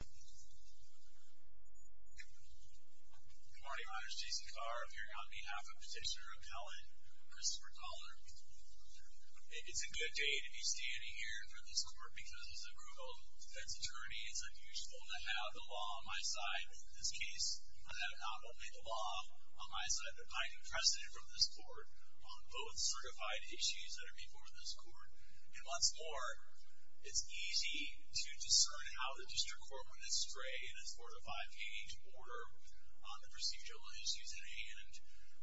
Good morning, my name is Jason Carr. I'm here on behalf of Petitioner Appellant Christopher Culler. It's a good day to be standing here in front of this court because as a Grubel defense attorney it's unusual to have the law on my side in this case. I have not only the law on my side, but I have precedent from this court on both certified issues that are before this court. And what's more, it's easy to discern how the district court went astray in its four to five page order on the procedural issues at hand.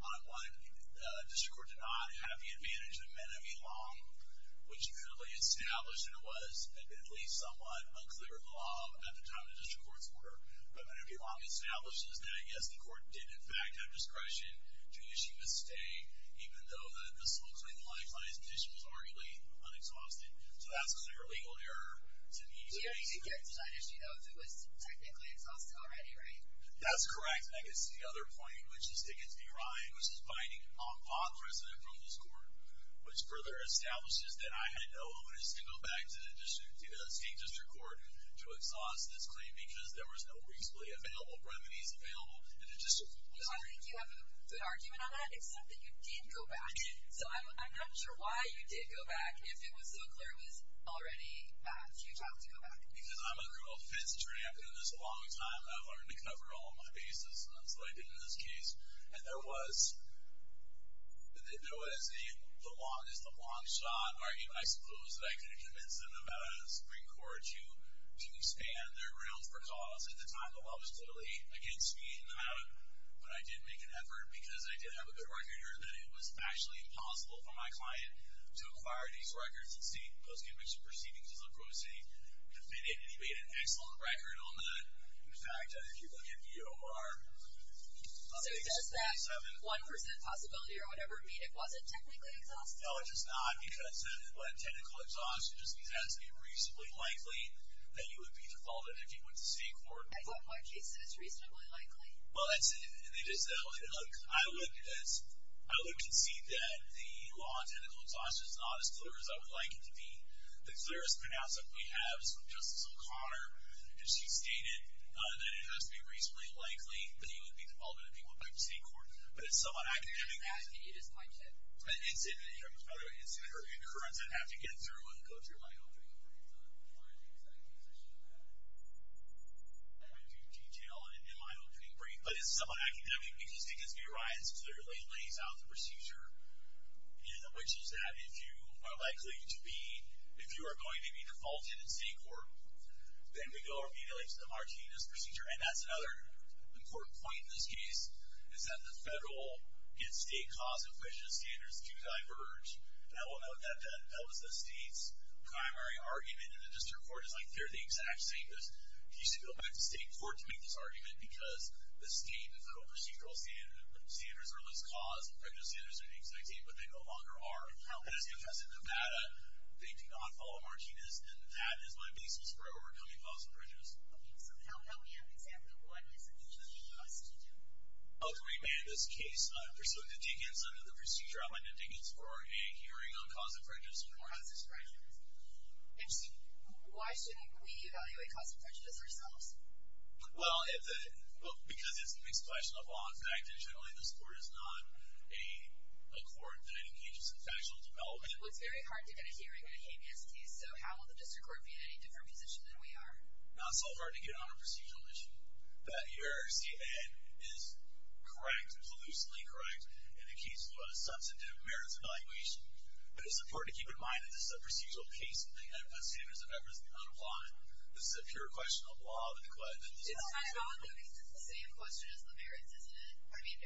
On one, the district court did not have the advantage of Menevielong, which clearly established, and it was at least somewhat unclear of the law at the time the district court's order. But Menevielong establishes that yes, the court did in fact have discretion to issue a stay, even though this looks like client's petition was arguably unexhausted. So that's a clear legal error to me. Yeah, you could get to that issue though if it was technically exhausted already, right? That's correct. I could see the other point, which is against me, Ryan, which is binding on precedent from this court, which further establishes that I had no evidence to go back to the state district court to exhaust this claim because there was no reasonably available remedies available in the district court. I think you have a good argument on that, except that you did go back. So I'm not sure why you did go back if it was so clear it was already bad for you to have to go back. Because I'm a rule of fifths attorney. I've been in this a long time. I've learned to cover all my bases, and that's what I did in this case. And there was the longest of long shot argument. I suppose that I could have convinced them about a Supreme Court to expand their realm for cause at the time the law was clearly against me. But I did make an effort because I did have a good record here that it was actually impossible for my client to acquire these records and see post-conviction proceedings as a grossing. If they did, and he made an excellent record on that. In fact, if you look at EOR, I think it's 27. So does that 1% possibility or whatever mean it wasn't technically exhausted? No, it's just not because it wasn't technically exhausted. It's just because it's reasonably likely that you would be defaulted if you went to state court. I thought in my case it was reasonably likely. Well, that's it. I would concede that the law technically exhausted is not as clear as I would like it to be. The clearest pronouncement we have is from Justice O'Connor. She stated that it has to be reasonably likely that you would be defaulted if you went back to state court. But it's somewhat academic. It has to be. It is my case. It's an incident. It happens by the way. It's an incurrence. I'd have to get it through and go through my own training program to find the exact position I'm at. I won't go into detail in my opening brief, but it's somewhat academic. We can stick this in your rights. It clearly lays out the procedure, which is that if you are likely to be, if you are going to be defaulted in state court, then we go over maybe like the Martinez procedure. And that's another important point in this case, is that the federal and state cause in which the standards do diverge. And I will note that that was the state's primary argument. And the district court is like, they're the exact same. You should go back to state court to make this argument, because the state and federal procedural standards are less cause than prejudice standards are the exact same, but they no longer are. And as you'll notice in Nevada, they do not follow Martinez. And that is my basis for overcoming causal prejudice. Okay. So now we have an example of what is an incident in a procedure. Ultimately, in this case, pursuing indignance under the procedure, I find indignance for a hearing on cause of prejudice. Interesting. Why shouldn't we evaluate cause of prejudice ourselves? Well, because it's a mixed question of law and fact, and generally this court is not a court that engages in factual development. It looks very hard to get a hearing in a Habeas case, so how will the district court be in any different position than we are? Not so hard to get on a procedural issue. That your RCN is correct, conclusively correct, in the case of a substantive merits evaluation. But it's important to keep in mind that this is a procedural case, and we have standards of everything on the planet. This is a pure question of law of the declarative. It's kind of the same question as the merits, isn't it? I mean,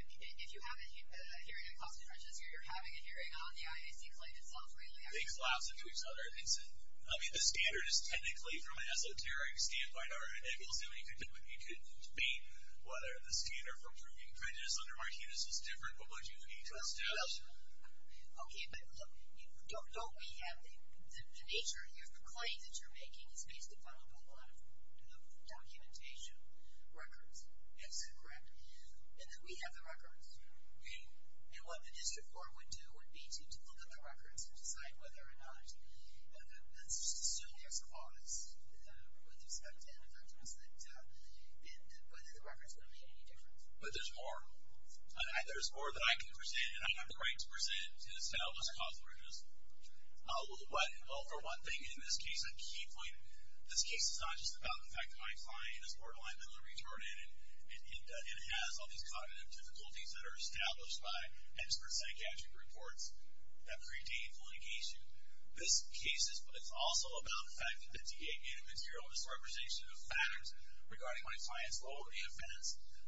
if you have a hearing on cause of prejudice, or you're having a hearing on the IAC claim itself, really, I mean... Things lapse into each other, Vincent. I mean, the standard is technically from an esoteric standpoint, or it will seem like you could debate whether the standard for proving prejudice under Martinez is different. What would you need to establish? Well, okay, but look, don't we have the nature, if the claim that you're making is based upon a lot of documentation, records, Vincent, correct? And then we have the records, and what the district court would do would be to look at the records and decide whether or not, let's assume there's cause with respect to indefensiveness, and whether the records would have made any difference. But there's more. There's more that I can present, and I have the right to present to establish a cause of prejudice. What, well, for one thing, in this case, a key point, this case is not just about the fact that my client is borderline mentally retarded, and has all these cognitive difficulties that are established by expert psychiatric reports that predate communication. This case is also about the fact that the DA gave material misrepresentation of facts regarding my client's loyalty offense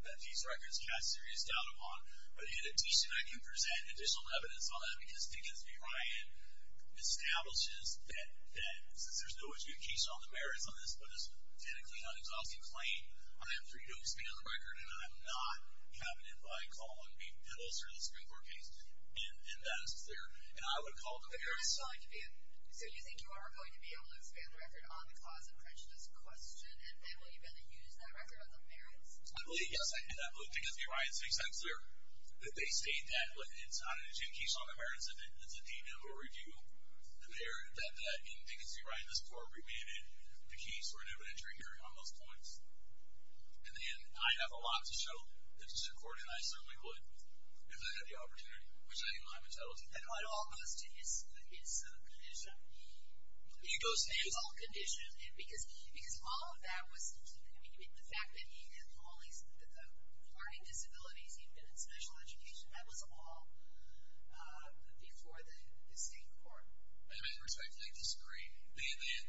that these records cast serious doubt upon. But in addition, I can present additional evidence on that, because DHSB Ryan establishes that since there's no adjudication on the merits on this, but it's a technically non-exhaustive claim, I am free to expand the record, and I am not captain if I call on Pete Pendles or the Supreme Court case. And that is clear. And I would call the jury. But you're not calling the jury. So you think you are going to be able to expand the record on the cause of prejudice question, and then will you be able to use that record on the merits? I believe, yes, I can. I believe Dickens v. Ryan's case, I'm sure, that they state that it's not an adjudication on the merits of it. It's a DMA who will review the merit that, in Dickens v. Ryan, this court remanded the case for an evidentiary hearing on those points. And again, I have a lot to show that the Supreme Court, and I certainly would, if they had the opportunity, which I know I'm entitled to. And by all means, to his condition, he goes to his own condition. Because all of that was, I mean, the fact that he had all these, the learning disabilities, he had been in special education. That was all before the state court. And I respectfully disagree.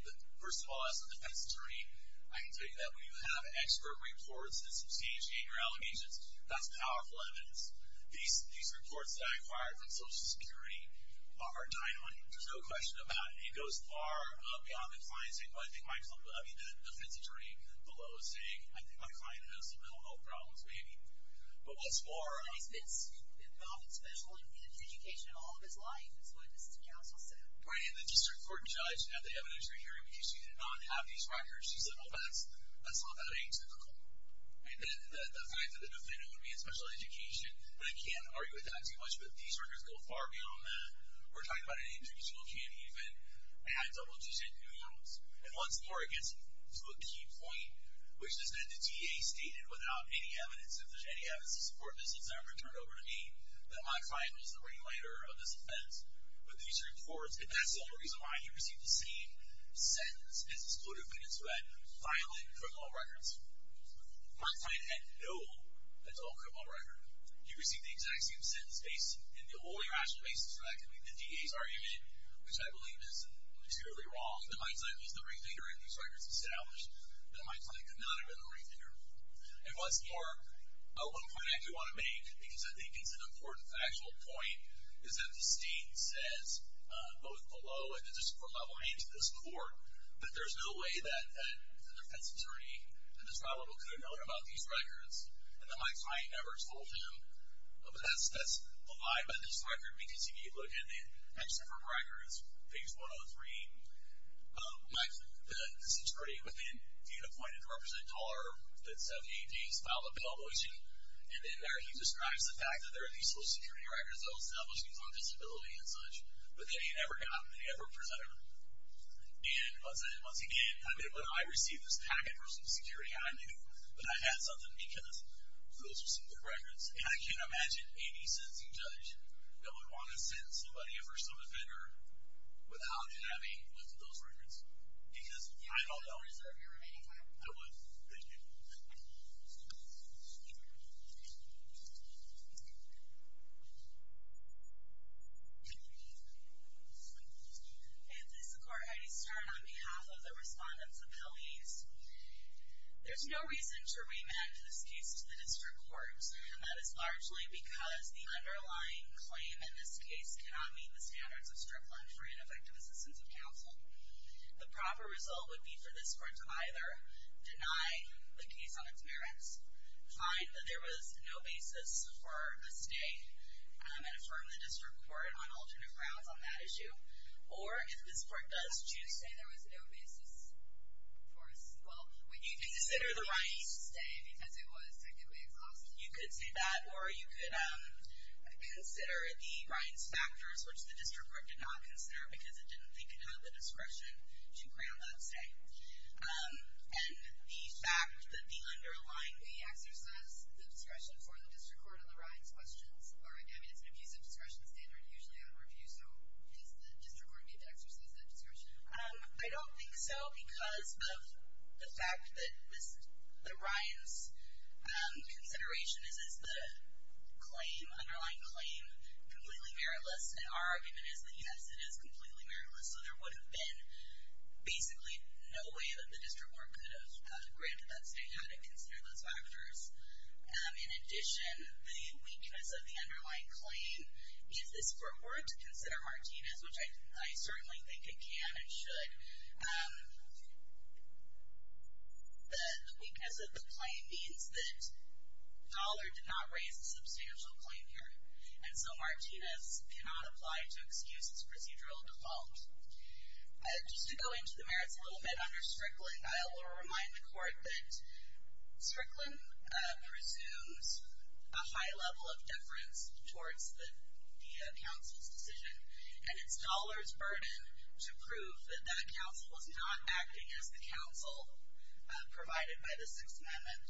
The, first of all, as a defense attorney, I can tell you that when you have expert reports and some CHE and your allegations, that's powerful evidence. These reports that I acquired from Social Security are 900, there's no question about it. It goes far beyond the client's, I think, I mean, the defense attorney below is saying, I think my client has some mental health problems, maybe. But what's more- And he's been involved in special education all of his life, is what this counsel said. Right, and the district court judge, at the evidentiary hearing, because she did not have these records, she said, well, that's not how it came to the court. And the fact that the defendant would be in special education, I can't argue with that too much, but these records go far beyond that. We're talking about an introductional CHE event at Double G State in New York. And once more, it gets to a key point, which is that the DA stated, without any evidence, if there's any evidence to support this, it's never turned over to me, that my client was the ringleader of this offense. But these reports, if that's the only reason why he received the same sentence, it's exclusive evidence to that violent criminal records. My client had no adult criminal record. He received the exact same sentence based, and the only rational basis for that could be the DA's argument, which I believe is entirely wrong, that my client was the ringleader and these records established, that my client could not have been the ringleader. And once more, one point I do want to make, because I think it's an important factual point, is that the state says, both below and at the district court level and into this court, that there's no way that the defense attorney at the trial level could have known about these records, and that my client never told him, but that's a lie, but these records are meant to be looked at in extra-court records, page 103, that the district attorney would then be appointed to represent the DA's file of publication, and in there he describes the fact that there are these social security records that will establish his own disability and such, but that he never got, and he never presented them. And once again, I mean, when I received this package for social security, I knew that I had something, because those are secret records, and I can't imagine any sentencing judge that would want to sentence somebody for some offender without having looked at those records. Because I don't know. Do you want to reserve your remaining time? I would, thank you. And this is Court Heidi Stern on behalf of the Respondents' Appeal Ease. There's no reason to remand this case to the district courts, and that is largely because the underlying claim in this case cannot meet the standards of Strickland for Ineffective Assistance of Counsel. The proper result would be for this court to either deny the case on its merits, find that there was no basis for a stay, and affirm the district court on alternate grounds on that issue, or if this court does choose to say there was no basis for a stay, well, you can consider the right to stay, because it was technically exhausted, you could say that, or you could consider the Ryan's factors, which the district court did not consider because it didn't think it had the discretion to grant that stay. And the fact that the underlying may exercise the discretion for the district court on the Ryan's questions, I mean, it's an abusive discretion standard, usually on review, so I don't think so, because of the fact that the Ryan's consideration is, is the claim, underlying claim, completely meritless, and our argument is that, yes, it is completely meritless, so there would have been basically no way that the district court could have granted that stay had it considered those factors. In addition, the weakness of the underlying claim is this court were it to consider Martinez, which I certainly think it can and should, the weakness of the claim means that Dollar did not raise a substantial claim here, and so Martinez cannot apply to excuse this procedural default. Just to go into the merits a little bit under Strickland, I will remind the court that Strickland presumes a high level of deference towards the council's decision, and it's Dollar's burden to prove that that council is not acting as the council provided by the Sixth Amendment.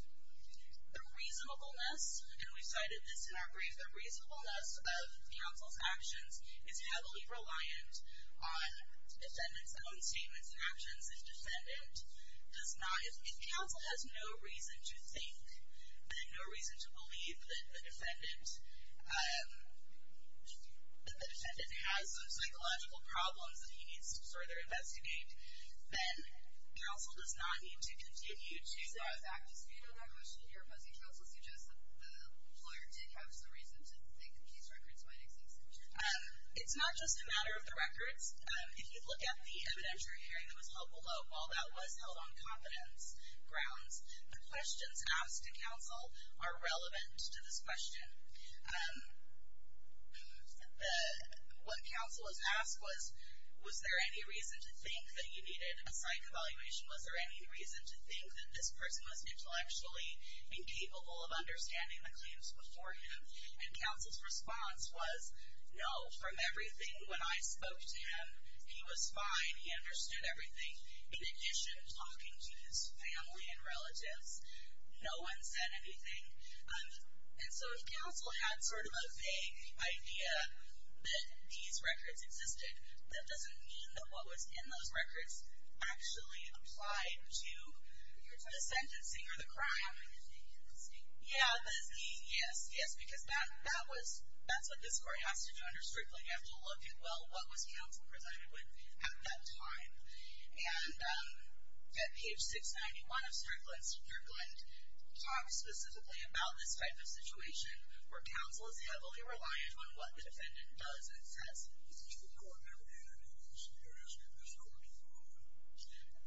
The reasonableness, and we've cited this in our brief, the reasonableness of council's actions is heavily reliant on defendant's own statements and actions. If counsel has no reason to think, then no reason to believe that the defendant has some psychological problems that he needs to further investigate, then council does not need to continue to- So, I was back to speak on that question here, but the counsel suggests that the lawyer did have some reason to think the case records might exist in which case. It's not just a matter of the records. If you look at the evidentiary hearing that was held below, while that was held on confidence grounds, the questions asked to counsel are relevant to this question. What counsel was asked was, was there any reason to think that he needed a psych evaluation? Was there any reason to think that this person was intellectually incapable of understanding the claims before him? And counsel's response was, no, from everything, when I spoke to him, he was fine. He understood everything. In addition, talking to his family and relatives, no one said anything. And so, if counsel had sort of a vague idea that these records existed, that doesn't mean that what was in those records actually applied to the sentencing or the crime. Yeah, yes, yes, because that was, that's what this court has to do under Strickland. You have to look at, well, what was counsel presided with at that time? And at page 691 of Strickland, Senator Glenn talks specifically about this type of situation where counsel is heavily reliant on what the defendant does and says. Is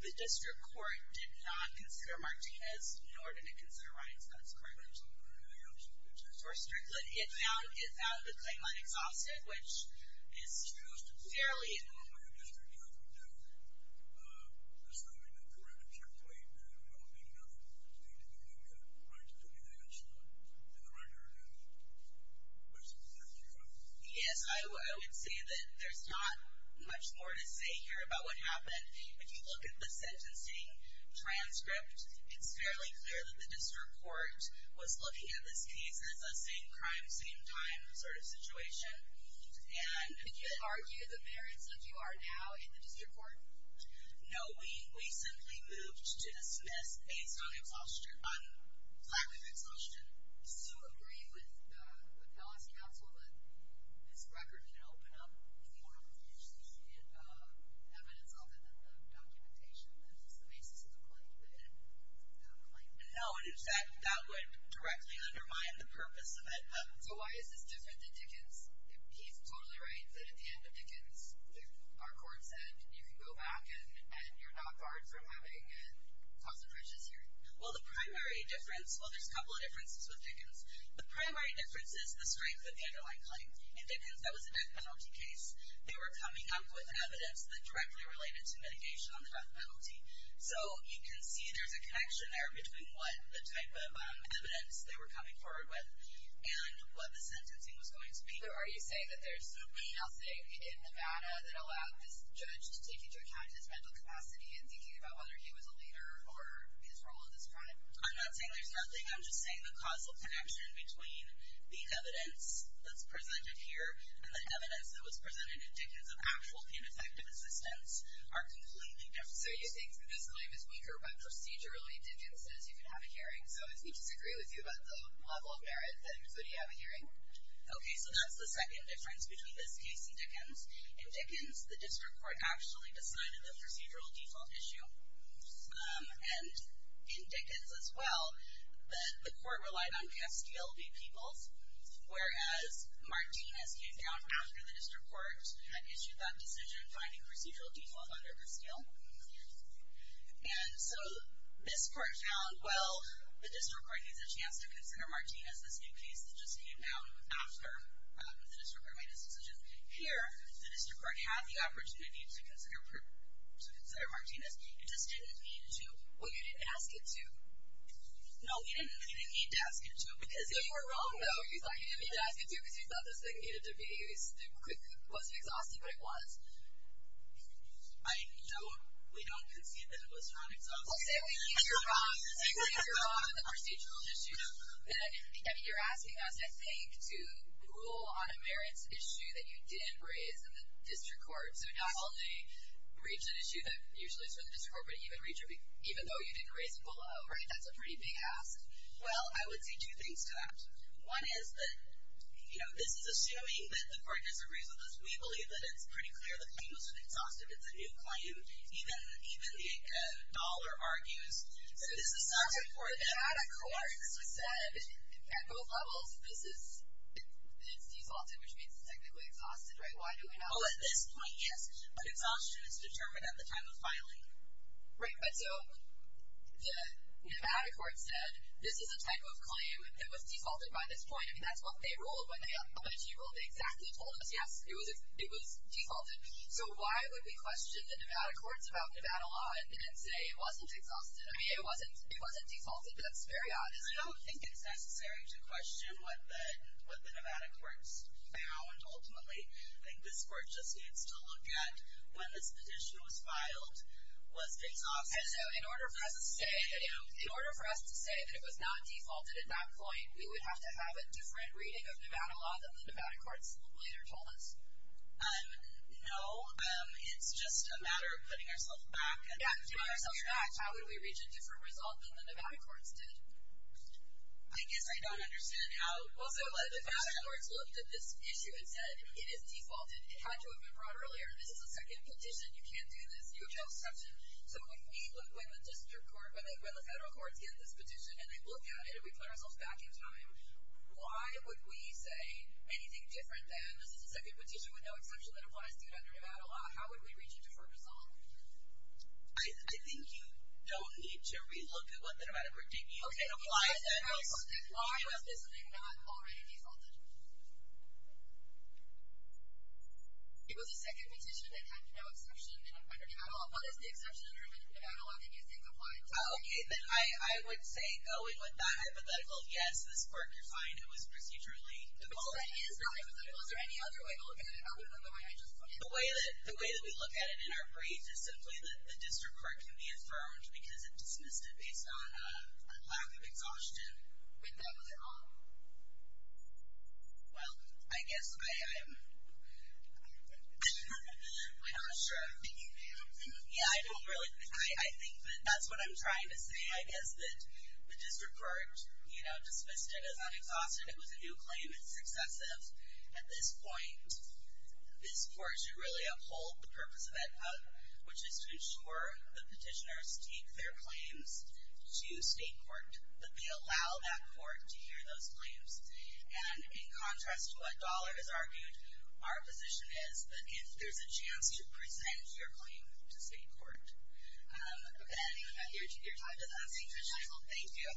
the District Court going to review the evidentiary hearing of the District Court before the hearing of the District Court? The District Court did not consider Martinez, nor did it consider Reincevitz, correct? Reincevitz, yes. For Strickland, it found Reincevitz a claim on exhaustive, which is fairly important. The District Court would do the same thing, but for Reincevitz, you're claiming that Reincevitz did not, that you didn't get Reincevitz on the record, which is not true, right? Yes, I would say that there's not much more to say here about what happened. If you look at the sentencing transcript, it's fairly clear that the District Court was looking at this case as a same-crime, same-time sort of situation. And- Did you argue the merits of you are now in the District Court? No, we simply moved to dismiss based on exhaustion, on lack of exhaustion. So you agree with the policy counsel that this record can open up more of the evidence of it than the documentation. That's just the basis of the claim, but I don't like that. No, and in fact, that would directly undermine the purpose of it. So why is this different than Dickens? He's totally right that at the end of Dickens, our court said, you can go back and you're not barred from having a concentration series. Well, the primary difference, well, there's a couple of differences with Dickens. The primary difference is the strength of the underlying claim. In Dickens, that was a death penalty case. They were coming up with evidence that directly related to mitigation on the death penalty. So you can see there's a connection there between what the type of evidence they were coming forward with and what the sentencing was going to be. So are you saying that there's nothing else, say, in Nevada that allowed this judge to take into account his mental capacity in thinking about whether he was a leader or his role in this crime? I'm not saying there's nothing. I'm just saying the causal connection between the evidence that's presented here and the evidence that was presented in Dickens of actual ineffective assistance are completely different. So you're saying this claim is weaker, but procedurally, Dickens says you can have a hearing. So if we disagree with you about the level of merit, then could you have a hearing? OK, so that's the second difference between this case and Dickens. In Dickens, the district court actually decided the procedural default issue. And in Dickens as well, the court relied on Castile v. Peoples, whereas Martinez came down after the district court had issued that decision finding procedural default under Castile. And so this court found, well, the district court needs a chance to consider Martinez, this new case that just came down after the district court made its decision. Here, the district court had the opportunity to consider Martinez. It just didn't mean to. Well, you didn't ask it to. No, he didn't mean to ask it to. Because if you were wrong, though, he's like, you didn't mean to ask it to because you thought this thing needed to be, it wasn't exhaustive, but it was. I know we don't concede that it was non-exhaustive. Let's say we hear wrong on the procedural issue, and you're asking us, I think, to rule on a merits issue that you did raise in the district court. So not only reads an issue that usually is for the district court, but even though you did raise it below, that's a pretty big ask. Well, I would say two things to that. One is that this is assuming that the court has a reason, because we believe that it's pretty clear the claim wasn't exhaustive. It's a new claim. Even the dollar argues that this is not good for them. So if you had a court that said, at both levels, this is, it's defaulted, which means it's technically exhausted, right? Why do we have- Oh, at this point, yes. But exhaustion is determined at the time of filing. Right, right. So the Nevada court said, this is a type of claim that was defaulted by this point. I mean, that's what they ruled. When they upended your rule, they exactly told us, yes, it was defaulted. So why would we question the Nevada courts about Nevada law and say it wasn't exhausted? I mean, it wasn't defaulted, but that's very obvious. I don't think it's necessary to question what the Nevada courts found, ultimately. I think this court just needs to look at, when this petition was filed, was it exhaustive? And so in order for us to say that it was not defaulted at that point, we would have to have a different reading of Nevada law than the Nevada courts later told us? No. It's just a matter of putting ourselves back and doing our best. Yeah, putting ourselves back. How would we reach a different result than the Nevada courts did? I guess I don't understand how- So the Nevada courts looked at this issue and said, it is defaulted. It had to have been brought earlier. This is a second petition. You can't do this. You have no exception. So if we look when the district court, when the federal courts get this petition, and they look at it, and we put ourselves back in time, why would we say anything different than this is a second petition with no exception that applies to Nevada law? How would we reach a different result? I think you don't need to relook at what the Nevada court did. You can apply it then. Why was this not already defaulted? It was a second petition that had no exception in Nevada law. What is the exception in Nevada law? Can you think of why? Okay, then I would say going with that hypothetical, yes, this court defined it was procedurally defaulted. That is not hypothetical. Is there any other way to look at it other than the way I just looked at it? The way that we look at it in our brief is simply that the district court can be affirmed because it dismissed it based on a lack of exhaustion when that was at all. Well, I guess I am, I'm not sure. Are you thinking that? Yeah, I don't really, I think that that's what I'm trying to say. I guess that the district court dismissed it as unexhausted. It was a new claim. It's excessive. At this point, this court should really uphold the purpose of that cut, which is to ensure the petitioners take their claims to state court, that they allow that court to hear those claims. And in contrast to what Dollar has argued, our position is that if there's a chance to present your claim to state court, then your time does not seem to schedule. Thank you.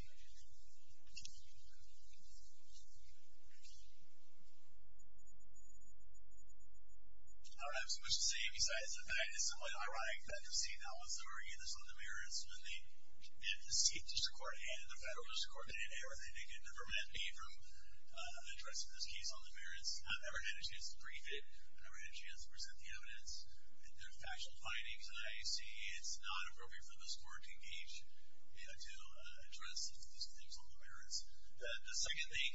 All right, I have so much to say besides that. It's simply ironic that the seat that was argued is on the merits when the state district court and the federal district court made an error. They could never prevent me from addressing this case on the merits. I've never had a chance to brief it. I've never had a chance to present the evidence. There's factual findings that I see. It's not appropriate for this court to engage, to address these things on the merits. The second thing.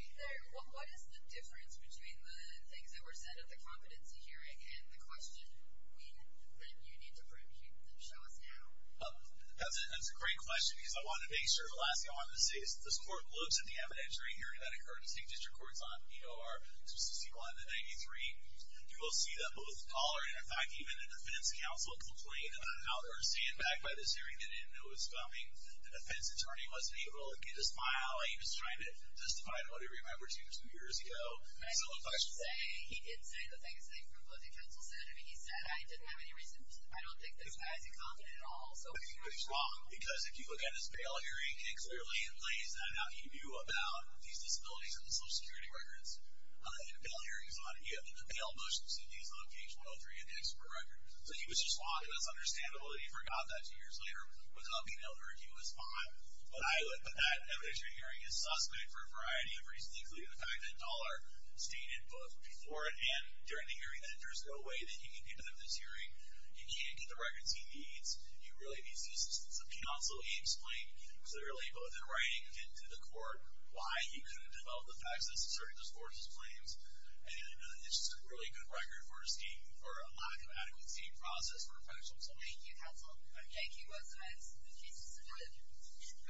What is the difference between the things that were said at the competency hearing and the question that you need to prove? Can you show us now? That's a great question, because I wanted to make sure. The last thing I wanted to say is that this court looked at the evidence during the hearing that occurred at the state district courts on EOR-261 and 93. You will see that both Dollar and, in fact, even the defense counsel complained about how they were standing back by this hearing. They didn't know it was coming. The defense attorney wasn't able to get his file. He was trying to testify to what he remembered two years ago. I know what you're saying. He did say the same thing from what the counsel said. I mean, he said, I didn't have any reason. I don't think this guy is incompetent at all. So he was wrong, because if you look at his bail hearing, it clearly lays that out. He knew about these disabilities and the Social Security records. Bail hearings, he had bail motions in these on page 103 in the expert records. So he was just wrong. It was understandable that he forgot that two years later. Without being ill-informed, he was fine. But that evidence during the hearing is suspect for a variety of reasons, including the fact that Dollar stated both before and during the hearing that there's no way that he can get out of this hearing. He can't get the records he needs. He really needs to be sentenced. The counsel explained clearly, both in writing and to the court, why he couldn't develop the facts that certain discourses claims. And it's just a really good record for a lack of adequacy in the process for a professional. Thank you. That's nice. Thank you.